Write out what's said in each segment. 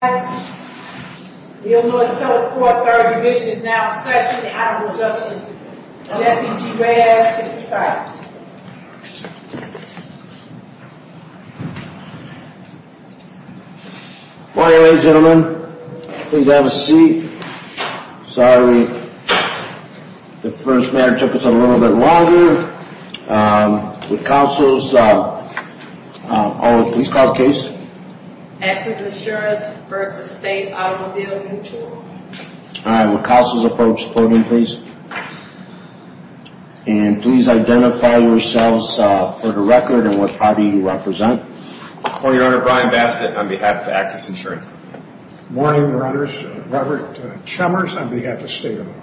The Illinois Appellate Court Third Division is now in session. The Honorable Justice Jesse G. Reyes is presiding. Morning ladies and gentlemen. Please have a seat. Sorry, the first matter took us a little bit longer. Um, with counsels, um, on the police cause case. Axis Insurance v. State Automobile Mutual. All right, with counsels' approach, podium please. And please identify yourselves, uh, for the record and what party you represent. Court Your Honor, Brian Bastet on behalf of Axis Insurance. Morning Your Honors, Robert Chalmers on behalf of State Auto.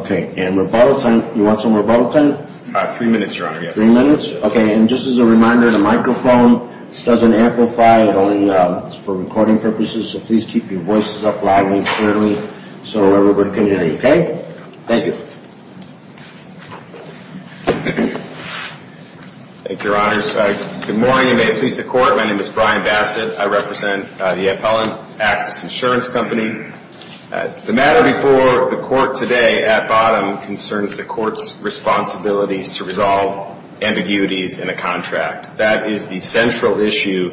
Okay, and rebuttal time, you want some rebuttal time? Uh, three minutes Your Honor, yes. Three minutes? Yes. Okay, and just as a reminder, the microphone doesn't amplify. It only, um, is for recording purposes. So please keep your voices up loudly, clearly, so everybody can hear you. Okay? Thank you. Thank you, Your Honors. Good morning and may it please the Court. My name is Brian Bastet. I represent the Appellant Axis Insurance Company. The matter before the Court today at bottom concerns the Court's responsibilities to resolve ambiguities in a contract. That is the central issue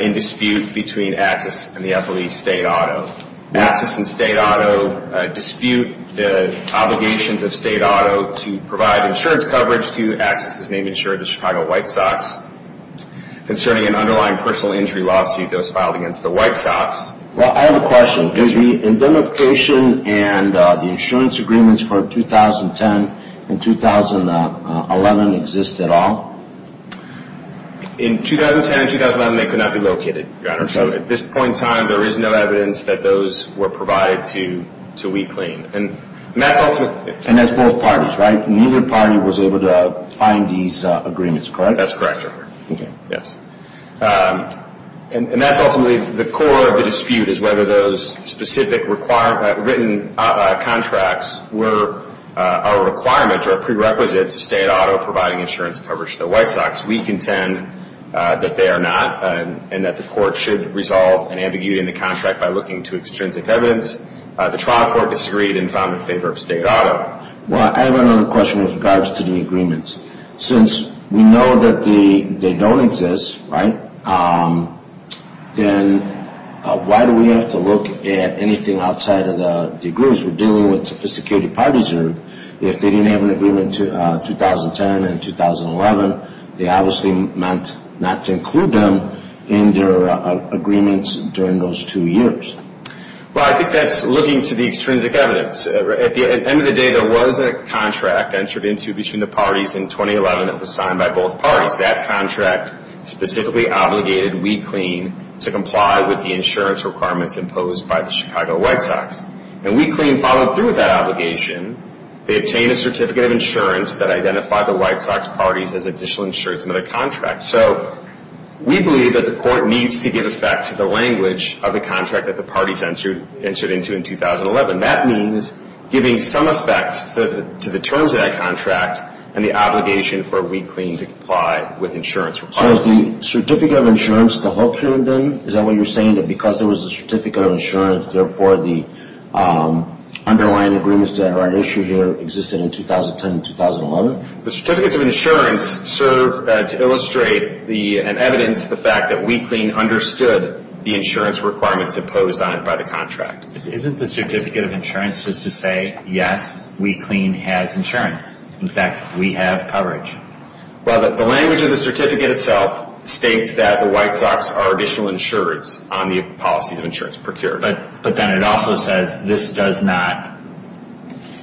in dispute between Axis and the FLE State Auto. Axis and State Auto dispute the obligations of State Auto to provide insurance coverage to Axis' name insurer, the Chicago White Sox, concerning an underlying personal injury lawsuit that was filed against the White Sox. Well, I have a question. Does the identification and the insurance agreements for 2010 and 2011 exist at all? In 2010 and 2011, they could not be located, Your Honor. So at this point in time, there is no evidence that those were provided to WeClaim. And that's ultimately... And that's both parties, right? Neither party was able to find these agreements, correct? That's correct, Your Honor. Okay. Yes. And that's ultimately the core of the dispute, is whether those specific written contracts were a requirement or a prerequisite to State Auto providing insurance coverage to the White Sox. We contend that they are not and that the Court should resolve an ambiguity in the contract by looking to extrinsic evidence. The trial court disagreed and found in favor of State Auto. Well, I have another question with regards to the agreements. Since we know that they don't exist, right, then why do we have to look at anything outside of the agreements? We're dealing with sophisticated parties here. If they didn't have an agreement in 2010 and 2011, they obviously meant not to include them in their agreements during those two years. Well, I think that's looking to the extrinsic evidence. At the end of the day, there was a contract entered into between the parties in 2011 that was signed by both parties. That contract specifically obligated WeClean to comply with the insurance requirements imposed by the Chicago White Sox. And WeClean followed through with that obligation. They obtained a certificate of insurance that identified the White Sox parties as additional insurance under the contract. So we believe that the Court needs to give effect to the language of the contract that the parties entered into in 2011. And that means giving some effect to the terms of that contract and the obligation for WeClean to comply with insurance requirements. So is the certificate of insurance the hook here then? Is that what you're saying, that because there was a certificate of insurance, therefore the underlying agreements that are at issue here existed in 2010 and 2011? The certificates of insurance serve to illustrate and evidence the fact that WeClean understood the insurance requirements imposed on it by the contract. Isn't the certificate of insurance just to say, yes, WeClean has insurance? In fact, we have coverage. Well, the language of the certificate itself states that the White Sox are additional insurance on the policies of insurance procured. But then it also says this does not,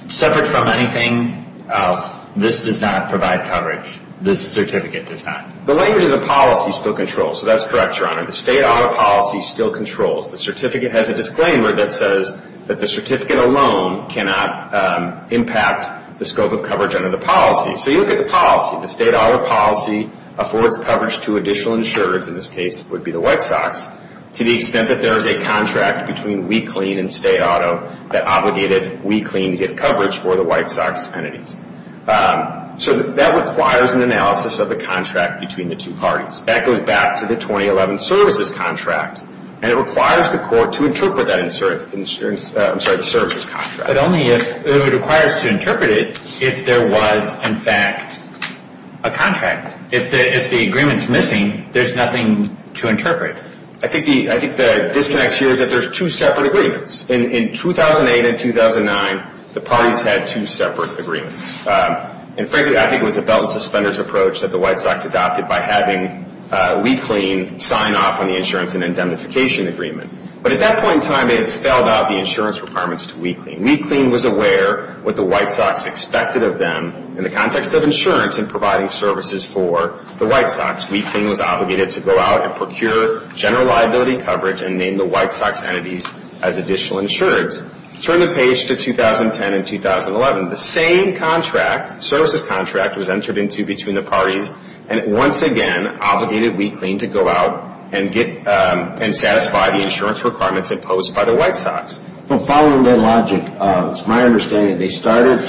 separate from anything else, this does not provide coverage. This certificate does not. The language of the policy still controls. So that's correct, Your Honor. The state audit policy still controls. The certificate has a disclaimer that says that the certificate alone cannot impact the scope of coverage under the policy. So you look at the policy. The state audit policy affords coverage to additional insurers, in this case it would be the White Sox, to the extent that there is a contract between WeClean and state auto that obligated WeClean to get coverage for the White Sox entities. So that requires an analysis of the contract between the two parties. That goes back to the 2011 services contract. And it requires the court to interpret that services contract. But only if it requires to interpret it if there was, in fact, a contract. If the agreement's missing, there's nothing to interpret. I think the disconnect here is that there's two separate agreements. In 2008 and 2009, the parties had two separate agreements. And frankly, I think it was a belt and suspenders approach that the White Sox adopted by having WeClean sign off on the insurance and indemnification agreement. But at that point in time, it had spelled out the insurance requirements to WeClean. WeClean was aware what the White Sox expected of them. In the context of insurance and providing services for the White Sox, WeClean was obligated to go out and procure general liability coverage and name the White Sox entities as additional insurers. Turn the page to 2010 and 2011. The same contract, services contract, was entered into between the parties. And once again, obligated WeClean to go out and satisfy the insurance requirements imposed by the White Sox. Well, following that logic, it's my understanding they started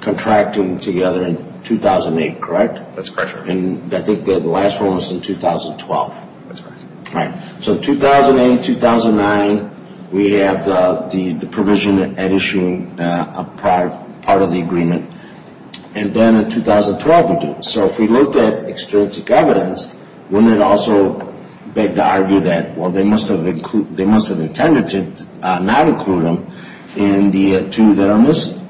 contracting together in 2008, correct? That's correct, sir. And I think the last one was in 2012. That's right. Right. So 2008, 2009, we had the provision and issuing part of the agreement. And then in 2012, we did. So if we look at experience of governance, wouldn't it also beg to argue that, well, they must have intended to not include them in the two that are missing?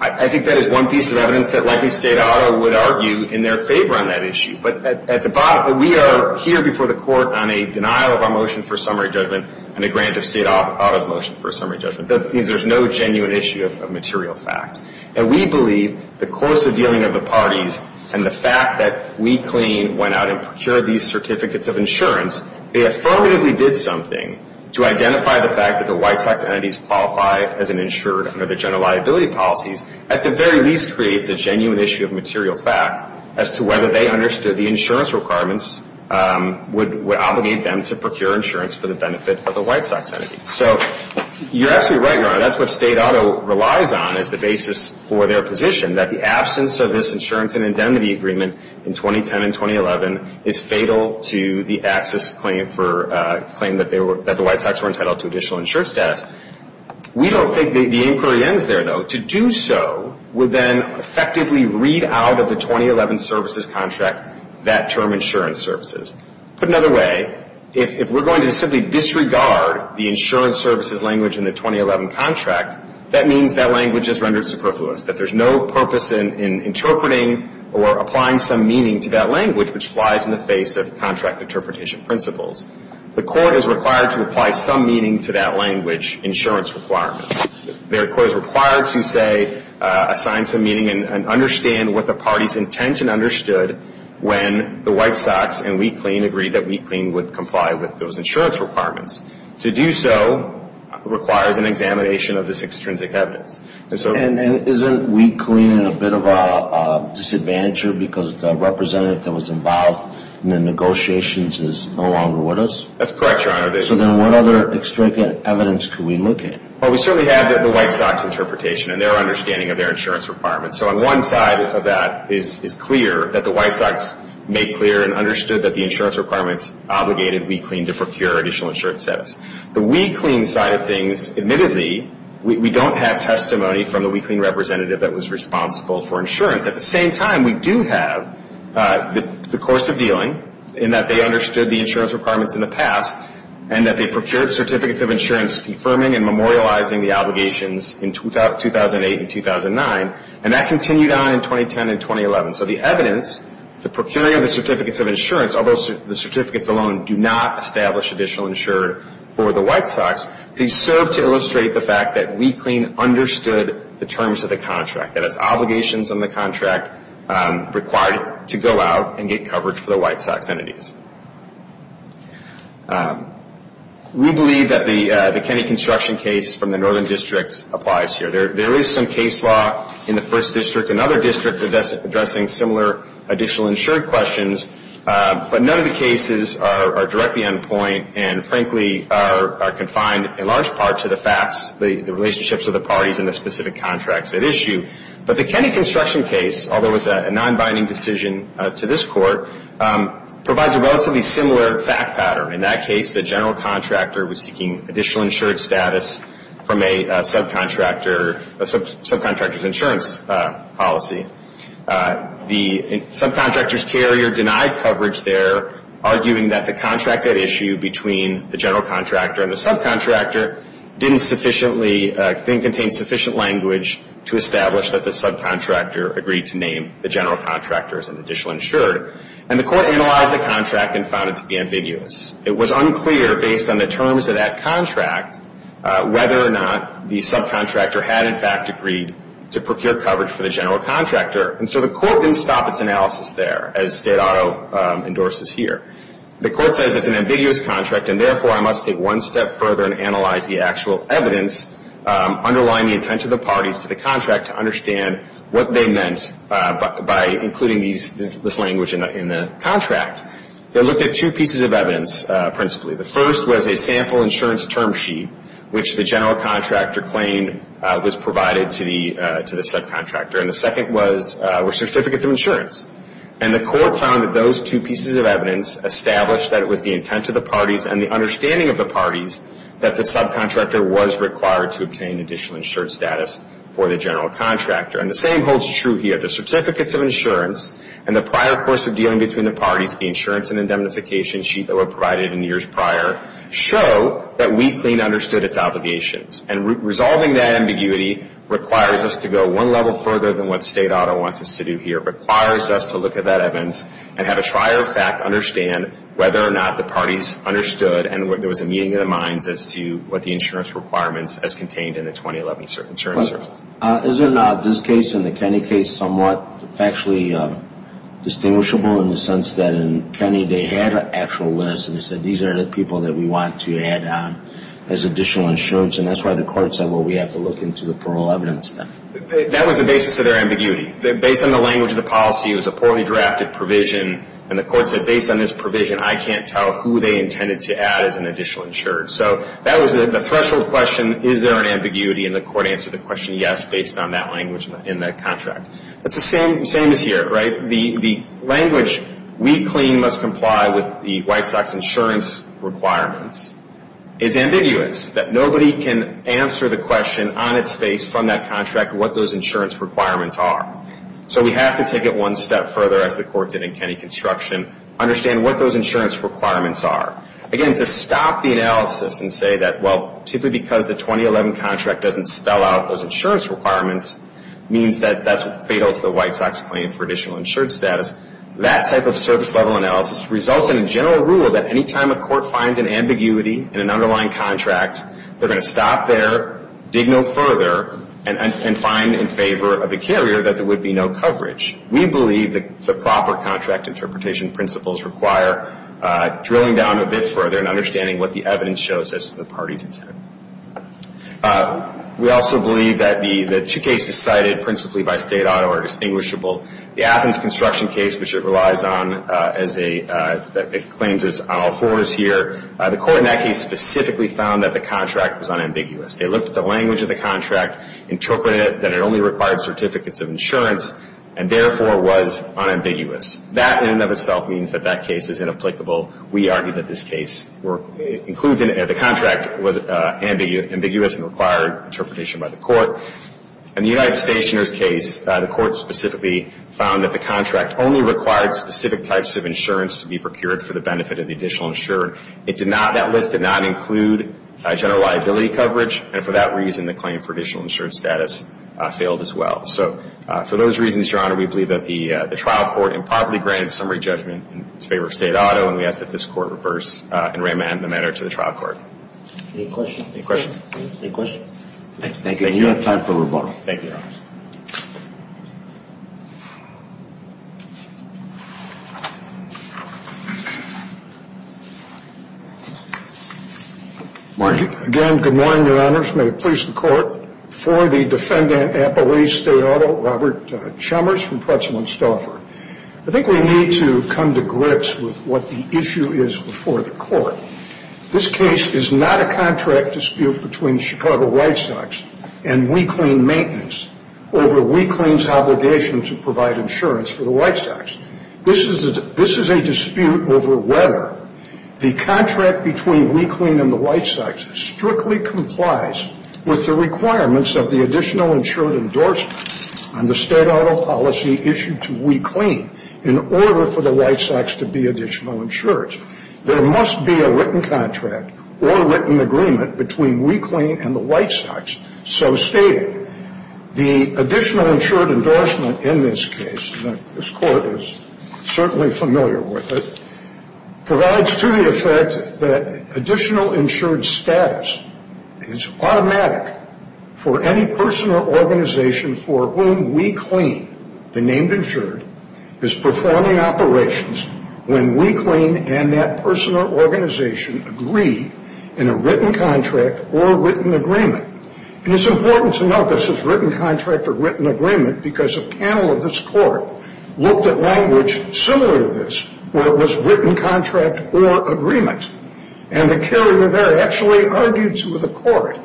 I think that is one piece of evidence that likely state auto would argue in their favor on that issue. But at the bottom, we are here before the court on a denial of our motion for summary judgment and a grant of state auto's motion for summary judgment. That means there's no genuine issue of material fact. And we believe the course of dealing of the parties and the fact that WeClean went out and procured these certificates of insurance, they affirmatively did something to identify the fact that the White Sox entities qualify as an insured under the general liability policies, at the very least creates a genuine issue of material fact as to whether they understood the insurance requirements would obligate them to procure insurance for the benefit of the White Sox entities. So you're absolutely right, Your Honor. That's what state auto relies on as the basis for their position, that the absence of this insurance and indemnity agreement in 2010 and 2011 is fatal to the access claim that the White Sox were entitled to additional insured status. We don't think the inquiry ends there, though. To do so would then effectively read out of the 2011 services contract that term insurance services. Put another way, if we're going to simply disregard the insurance services language in the 2011 contract, that means that language is rendered superfluous, that there's no purpose in interpreting or applying some meaning to that language which flies in the face of contract interpretation principles. The court is required to apply some meaning to that language insurance requirements. The court is required to, say, assign some meaning and understand what the parties intend when the White Sox and WeClean agreed that WeClean would comply with those insurance requirements. To do so requires an examination of this extrinsic evidence. And isn't WeClean a bit of a disadvantager because the representative that was involved in the negotiations is no longer with us? That's correct, Your Honor. So then what other extrinsic evidence can we look at? Well, we certainly have the White Sox interpretation and their understanding of their insurance requirements. So on one side of that is clear that the White Sox made clear and understood that the insurance requirements obligated WeClean to procure additional insurance status. The WeClean side of things, admittedly, we don't have testimony from the WeClean representative that was responsible for insurance. At the same time, we do have the course of dealing in that they understood the insurance requirements in the past and that they procured certificates of insurance confirming and memorializing the obligations in 2008 and 2009. And that continued on in 2010 and 2011. So the evidence, the procuring of the certificates of insurance, although the certificates alone do not establish additional insurance for the White Sox, they serve to illustrate the fact that WeClean understood the terms of the contract, that it's obligations on the contract required to go out and get coverage for the White Sox entities. We believe that the Kennedy construction case from the Northern District applies here. There is some case law in the First District and other districts addressing similar additional insurance questions, but none of the cases are directly on point and, frankly, are confined in large part to the facts, the relationships of the parties and the specific contracts at issue. But the Kennedy construction case, although it's a non-binding decision to this Court, provides a relatively similar fact pattern. In that case, the general contractor was seeking additional insurance status from a subcontractor's insurance policy. The subcontractor's carrier denied coverage there, arguing that the contract at issue between the general contractor and the subcontractor didn't contain sufficient language to establish that the subcontractor agreed to name the general contractor as an additional insurer. And the Court analyzed the contract and found it to be ambiguous. It was unclear, based on the terms of that contract, whether or not the subcontractor had, in fact, agreed to procure coverage for the general contractor. And so the Court didn't stop its analysis there, as State Auto endorses here. The Court says it's an ambiguous contract and, therefore, I must take one step further and analyze the actual evidence underlying the intent of the parties to the contract to understand what they meant by including this language in the contract. They looked at two pieces of evidence principally. The first was a sample insurance term sheet, which the general contractor claimed was provided to the subcontractor. And the second were certificates of insurance. And the Court found that those two pieces of evidence established that it was the intent of the parties and the understanding of the parties that the subcontractor was required to obtain additional insurance status for the general contractor. And the same holds true here. The certificates of insurance and the prior course of dealing between the parties, the insurance and indemnification sheet that were provided in the years prior, show that We Clean understood its obligations. And resolving that ambiguity requires us to go one level further than what State Auto wants us to do here. It requires us to look at that evidence and have a trier of fact understand whether or not the parties understood and whether there was a meeting of the minds as to what the insurance requirements as contained in the 2011 insurance service. Isn't this case and the Kenny case somewhat factually distinguishable in the sense that in Kenny they had an actual list and they said these are the people that we want to add on as additional insurance and that's why the Court said, well, we have to look into the parole evidence then. That was the basis of their ambiguity. Based on the language of the policy, it was a poorly drafted provision, and the Court said based on this provision, I can't tell who they intended to add as an additional insurer. So that was the threshold question, is there an ambiguity, and the Court answered the question yes based on that language in that contract. It's the same as here, right? The language We Clean must comply with the White Sox insurance requirements is ambiguous, that nobody can answer the question on its face from that contract what those insurance requirements are. So we have to take it one step further as the Court did in Kenny construction, understand what those insurance requirements are. Again, to stop the analysis and say that, well, simply because the 2011 contract doesn't spell out those insurance requirements means that that's fatal to the White Sox claim for additional insurance status, that type of service level analysis results in a general rule that any time a court finds an ambiguity in an underlying contract, they're going to stop there, dig no further, and find in favor of the carrier that there would be no coverage. We believe that the proper contract interpretation principles require drilling down a bit further and understanding what the evidence shows as to the party's intent. We also believe that the two cases cited principally by State Auto are distinguishable. The Athens construction case, which it relies on as a – that it claims is on all fours here, the Court in that case specifically found that the contract was unambiguous. They looked at the language of the contract, interpreted it that it only required certificates of insurance, and therefore was unambiguous. That in and of itself means that that case is inapplicable. We argue that this case includes – the contract was ambiguous and required interpretation by the Court. In the United Stationers case, the Court specifically found that the contract only required specific types of insurance to be procured for the benefit of the additional insurer. It did not – that list did not include general liability coverage, and for that reason the claim for additional insurance status failed as well. So for those reasons, Your Honor, we believe that the trial court improperly granted summary judgment in favor of State Auto, and we ask that this Court reverse and remand the matter to the trial court. Any questions? Any questions? Any questions? Thank you. You have time for rebuttal. Thank you, Your Honor. Thank you. Again, good morning, Your Honors. May it please the Court. For the defendant at Belize State Auto, Robert Chalmers from Pretzel and Stauffer. I think we need to come to grips with what the issue is before the Court. This case is not a contract dispute between Chicago White Sox and WeClean Maintenance over WeClean's obligation to provide insurance for the White Sox. This is a dispute over whether the contract between WeClean and the White Sox strictly complies with the requirements of the additional insured endorsement on the State Auto policy issued to WeClean in order for the White Sox to be additional insured. There must be a written contract or written agreement between WeClean and the White Sox so stated. The additional insured endorsement in this case, and this Court is certainly familiar with it, provides to the effect that additional insured status is automatic for any person or organization for whom WeClean, the named insured, is performing operations when WeClean and that person or organization agree in a written contract or written agreement. And it's important to note this is written contract or written agreement because a panel of this Court looked at language similar to this where it was written contract or agreement. And the carrier there actually argued to the Court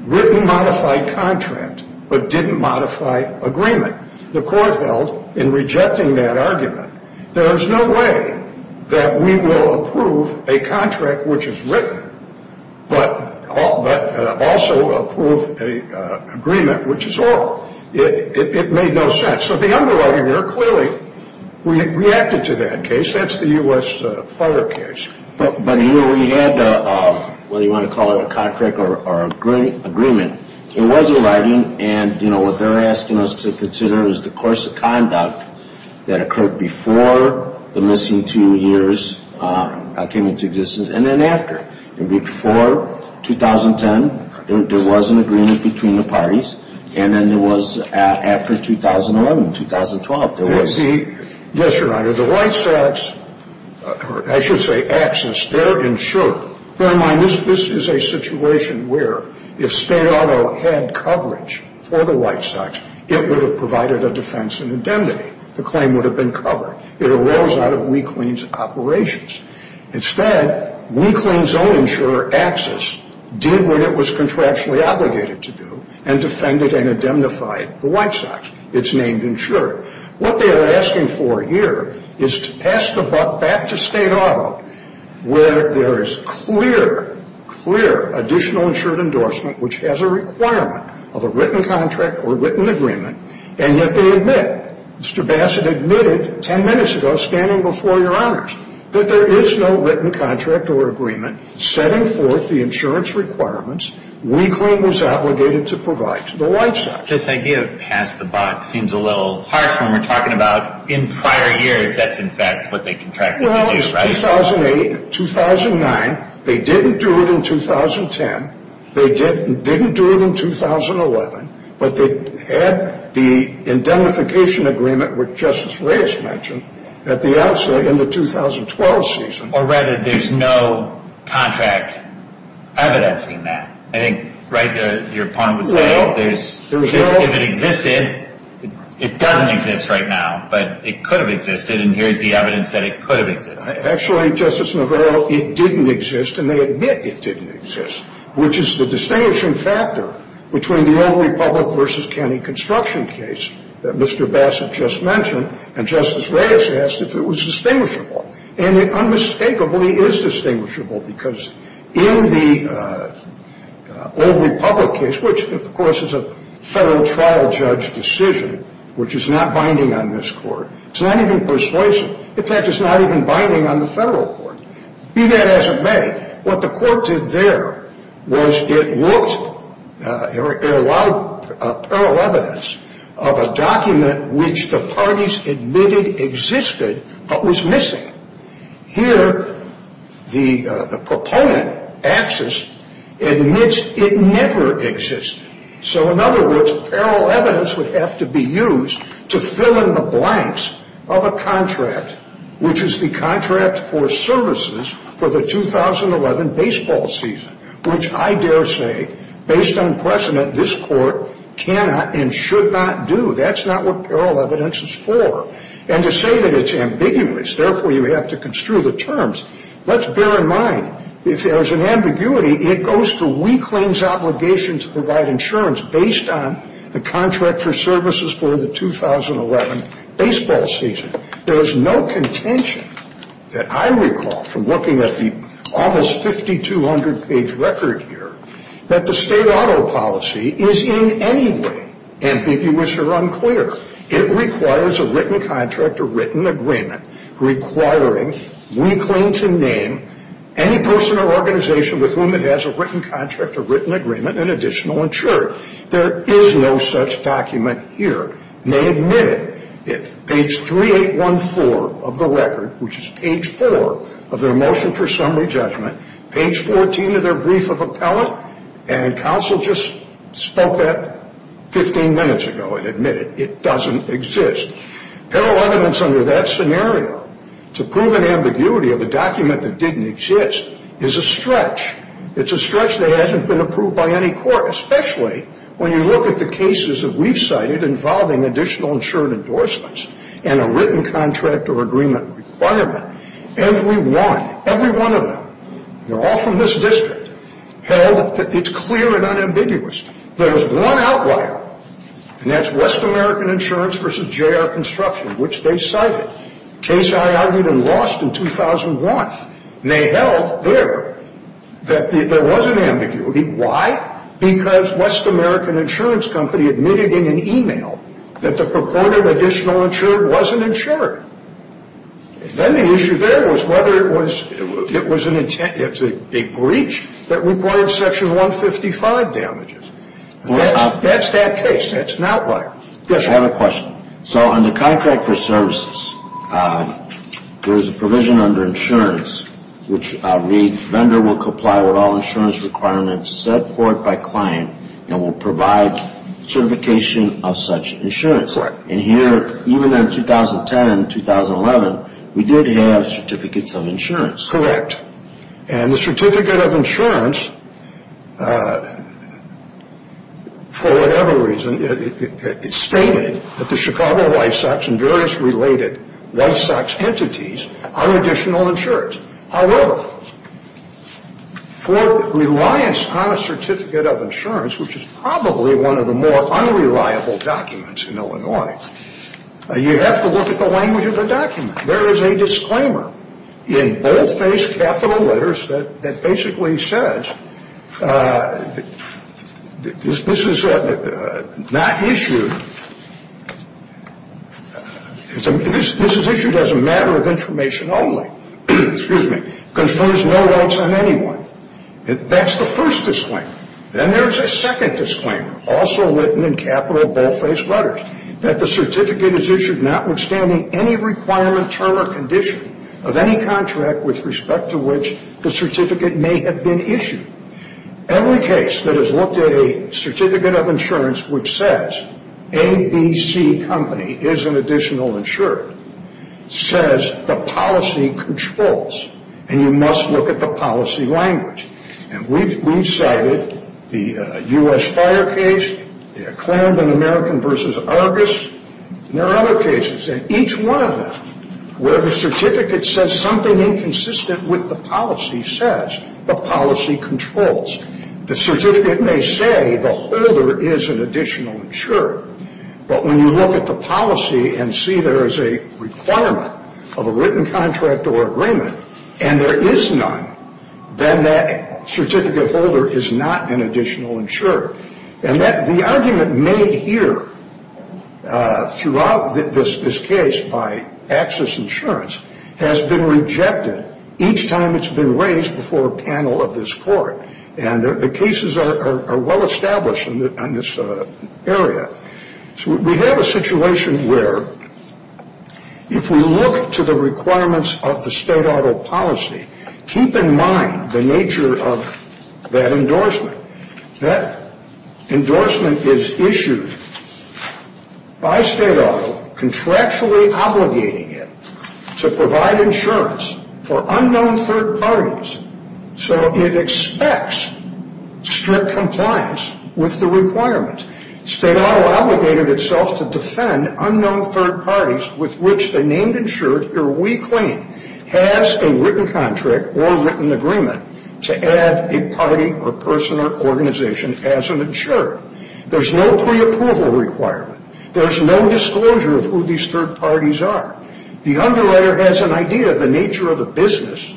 written modified contract but didn't modify agreement. The Court held in rejecting that argument there is no way that we will approve a contract which is written but also approve an agreement which is oral. It made no sense. So the underwriting there clearly reacted to that case. That's the U.S. fire case. But here we had, whether you want to call it a contract or agreement, it was a writing and, you know, what they're asking us to consider is the course of conduct that occurred before the missing two years came into existence and then after, before 2010 there was an agreement between the parties and then there was after 2011, 2012 there was. Yes, Your Honor. The White Sox, or I should say Axis, they're insured. Bear in mind this is a situation where if state auto had coverage for the White Sox, it would have provided a defense and indemnity. The claim would have been covered. It arose out of WeClean's operations. Instead, WeClean's own insurer, Axis, did what it was contractually obligated to do and defended and indemnified the White Sox. It's named insured. What they are asking for here is to pass the buck back to state auto where there is clear, clear additional insured endorsement which has a requirement of a written contract or written agreement, and yet they admit. Mr. Bassett admitted 10 minutes ago standing before Your Honors that there is no written contract or agreement setting forth the insurance requirements WeClean was obligated to provide to the White Sox. This idea of pass the buck seems a little harsh when we're talking about in prior years that's in fact what they contracted to do, right? Well, it's 2008, 2009. They didn't do it in 2010. They didn't do it in 2011. But they had the indemnification agreement, which Justice Reyes mentioned, at the outset in the 2012 season. Or rather, there's no contract evidencing that. I think, right, your point was that if it existed, it doesn't exist right now, but it could have existed, and here's the evidence that it could have existed. Actually, Justice Navarro, it didn't exist, and they admit it didn't exist, which is the distinguishing factor between the old republic versus county construction case that Mr. Bassett just mentioned, and Justice Reyes asked if it was distinguishable. And it unmistakably is distinguishable because in the old republic case, which of course is a Federal trial judge decision, which is not binding on this Court, it's not even persuasive. In fact, it's not even binding on the Federal Court. Be that as it may, what the Court did there was it worked, it allowed parallel evidence of a document which the parties admitted existed but was missing. Here, the proponent, Axis, admits it never existed. So in other words, parallel evidence would have to be used to fill in the blanks of a contract, which is the contract for services for the 2011 baseball season, which I dare say, based on precedent, this Court cannot and should not do. That's not what parallel evidence is for. And to say that it's ambiguous, therefore, you have to construe the terms. Let's bear in mind, if there's an ambiguity, it goes to weakling's obligation to provide insurance based on the contract for services for the 2011 baseball season. There is no contention that I recall from looking at the almost 5,200-page record here that the state auto policy is in any way ambiguous or unclear. It requires a written contract, a written agreement, requiring weakling to name any person or organization with whom it has a written contract, a written agreement, an additional insurer. There is no such document here. And they admit it. Page 3814 of the record, which is page 4 of their motion for summary judgment, page 14 of their brief of appellant, and counsel just spoke that 15 minutes ago and admitted it doesn't exist. Parallel evidence under that scenario to prove an ambiguity of a document that didn't exist is a stretch. It's a stretch that hasn't been approved by any court, especially when you look at the cases that we've cited involving additional insured endorsements and a written contract or agreement requirement. Every one, every one of them, they're all from this district, held that it's clear and unambiguous. There's one outlier, and that's West American Insurance v. J.R. Construction, which they cited, a case I argued and lost in 2001. And they held there that there was an ambiguity. Why? Because West American Insurance Company admitted in an e-mail that the purported additional insured wasn't insured. Then the issue there was whether it was a breach that required Section 155 damages. That's that case. That's an outlier. Yes, sir. I have a question. So under contract for services, there is a provision under insurance which reads, the lender will comply with all insurance requirements set forth by client and will provide certification of such insurance. Correct. And here, even in 2010 and 2011, we did have certificates of insurance. Correct. And the certificate of insurance, for whatever reason, it stated that the Chicago White Sox and various related White Sox entities are additional insured. However, for reliance on a certificate of insurance, which is probably one of the more unreliable documents in Illinois, you have to look at the language of the document. There is a disclaimer in boldface capital letters that basically says this is not issued as a matter of information only. Excuse me. Confirms no rights on anyone. That's the first disclaimer. Then there's a second disclaimer, also written in capital boldface letters, that the certificate is issued notwithstanding any requirement, term, or condition of any contract with respect to which the certificate may have been issued. Every case that has looked at a certificate of insurance which says ABC Company is an additional insured, says the policy controls. And you must look at the policy language. And we've cited the U.S. Fire case, the Atlanta American v. Argus, and there are other cases. And each one of them, where the certificate says something inconsistent with the policy, says the policy controls. The certificate may say the holder is an additional insured. But when you look at the policy and see there is a requirement of a written contract or agreement and there is none, then that certificate holder is not an additional insured. And the argument made here throughout this case by Access Insurance has been rejected each time it's been raised before a panel of this court. And the cases are well established in this area. So we have a situation where if we look to the requirements of the state auto policy, keep in mind the nature of that endorsement. That endorsement is issued by state auto contractually obligating it to provide insurance for unknown third parties. So it expects strict compliance with the requirements. State auto obligated itself to defend unknown third parties with which the named insured, or we claim, has a written contract or written agreement to add a party or person or organization as an insured. There's no preapproval requirement. There's no disclosure of who these third parties are. The underwriter has an idea of the nature of the business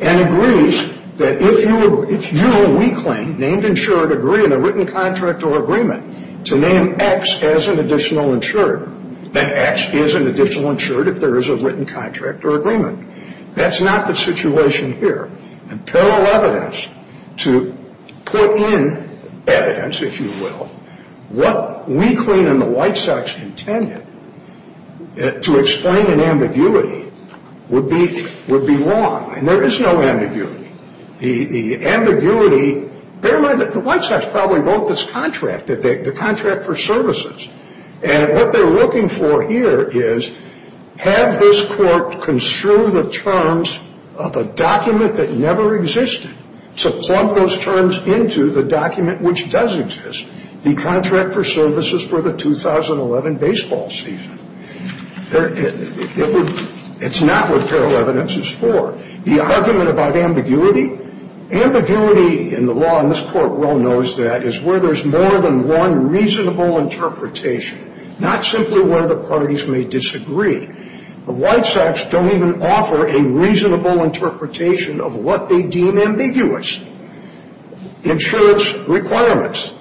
and agrees that if you, we claim, named insured, agree in a written contract or agreement to name X as an additional insured, then X is an additional insured if there is a written contract or agreement. That's not the situation here. And parallel evidence to put in evidence, if you will, what we claim in the White Sox intended to explain an ambiguity would be wrong. And there is no ambiguity. The ambiguity, bear in mind that the White Sox probably wrote this contract, the contract for services. And what they're looking for here is have this court construe the terms of a document that never existed to plunk those terms into the document which does exist, the contract for services for the 2011 baseball season. It's not what parallel evidence is for. The argument about ambiguity, ambiguity in the law, and this court well knows that, is where there's more than one reasonable interpretation, not simply where the parties may disagree. The White Sox don't even offer a reasonable interpretation of what they deem ambiguous, insurance requirements.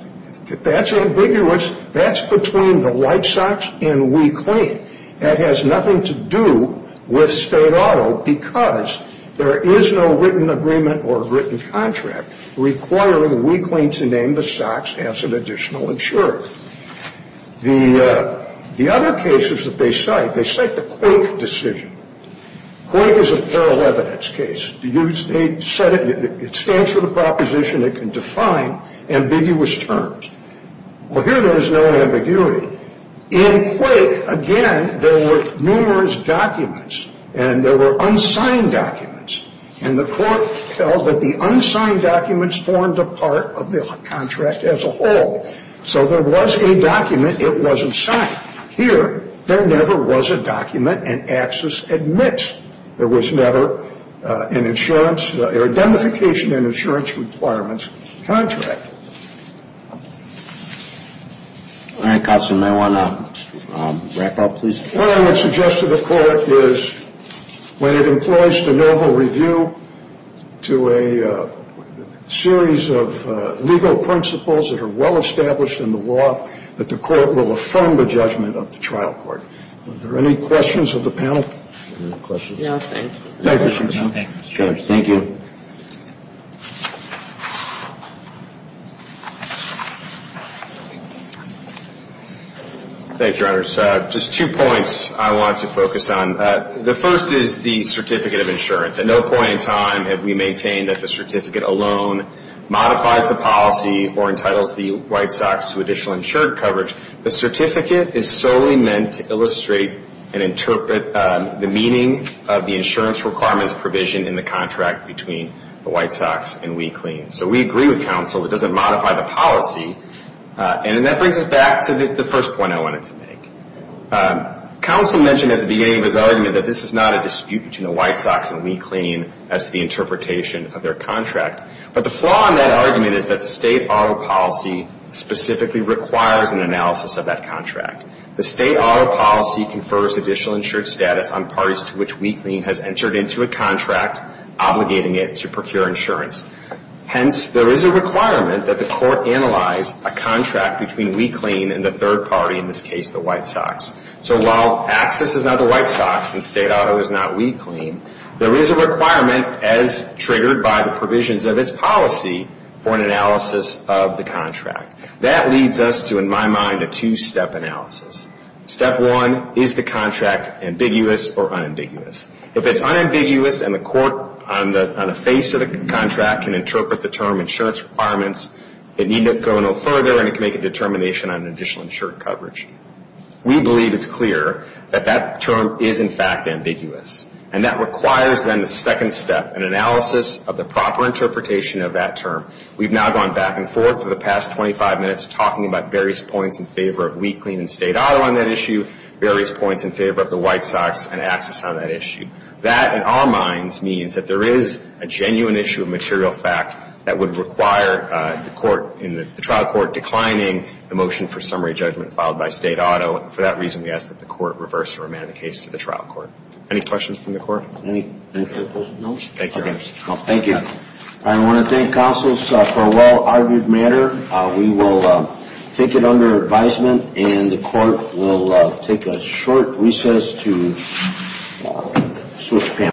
If that's ambiguous, that's between the White Sox and we claim. That has nothing to do with state auto because there is no written agreement or written contract requiring we claim to name the Sox as an additional insured. The other cases that they cite, they cite the Quake decision. Quake is a parallel evidence case. They said it stands for the proposition it can define ambiguous terms. Well, here there is no ambiguity. In Quake, again, there were numerous documents and there were unsigned documents. And the court felt that the unsigned documents formed a part of the contract as a whole. So there was a document. It wasn't signed. Here, there never was a document and Axis admits there was never an insurance or identification and insurance requirements contract. All right, Counselor, may I want to wrap up, please? What I would suggest to the court is when it employs de novo review to a series of legal principles that are well established in the law, that the court will affirm the judgment of the trial court. Are there any questions of the panel? Any questions? No, thank you. Thank you, Counselor. Thank you. Thank you, Your Honors. Just two points I want to focus on. The first is the certificate of insurance. At no point in time have we maintained that the certificate alone modifies the policy or entitles the White Sox to additional insured coverage. The certificate is solely meant to illustrate and interpret the meaning of the insurance requirements provision in the contract between the White Sox and We Clean. So we agree with Counsel that it doesn't modify the policy. And that brings us back to the first point I wanted to make. Counsel mentioned at the beginning of his argument that this is not a dispute between the White Sox and We Clean as to the interpretation of their contract. But the flaw in that argument is that the state auto policy specifically requires an analysis of that contract. The state auto policy confers additional insured status on parties to which We Clean has entered into a contract, obligating it to procure insurance. Hence, there is a requirement that the court analyze a contract between We Clean and the third party, in this case the White Sox. So while Axis is not the White Sox and state auto is not We Clean, there is a requirement as triggered by the provisions of its policy for an analysis of the contract. That leads us to, in my mind, a two-step analysis. Step one, is the contract ambiguous or unambiguous? If it's unambiguous and the court on the face of the contract can interpret the term insurance requirements, it need not go no further and it can make a determination on additional insured coverage. We believe it's clear that that term is in fact ambiguous. And that requires then the second step, an analysis of the proper interpretation of that term. We've now gone back and forth for the past 25 minutes talking about various points in favor of We Clean and state auto on that issue, various points in favor of the White Sox and Axis on that issue. That, in our minds, means that there is a genuine issue of material fact that would require the trial court declining the motion for summary judgment filed by state auto. For that reason, we ask that the court reverse or amend the case to the trial court. Any questions from the court? Any further questions? No. Thank you. I want to thank counsels for a well-argued matter. We will take it under advisement and the court will take a short recess to switch panels.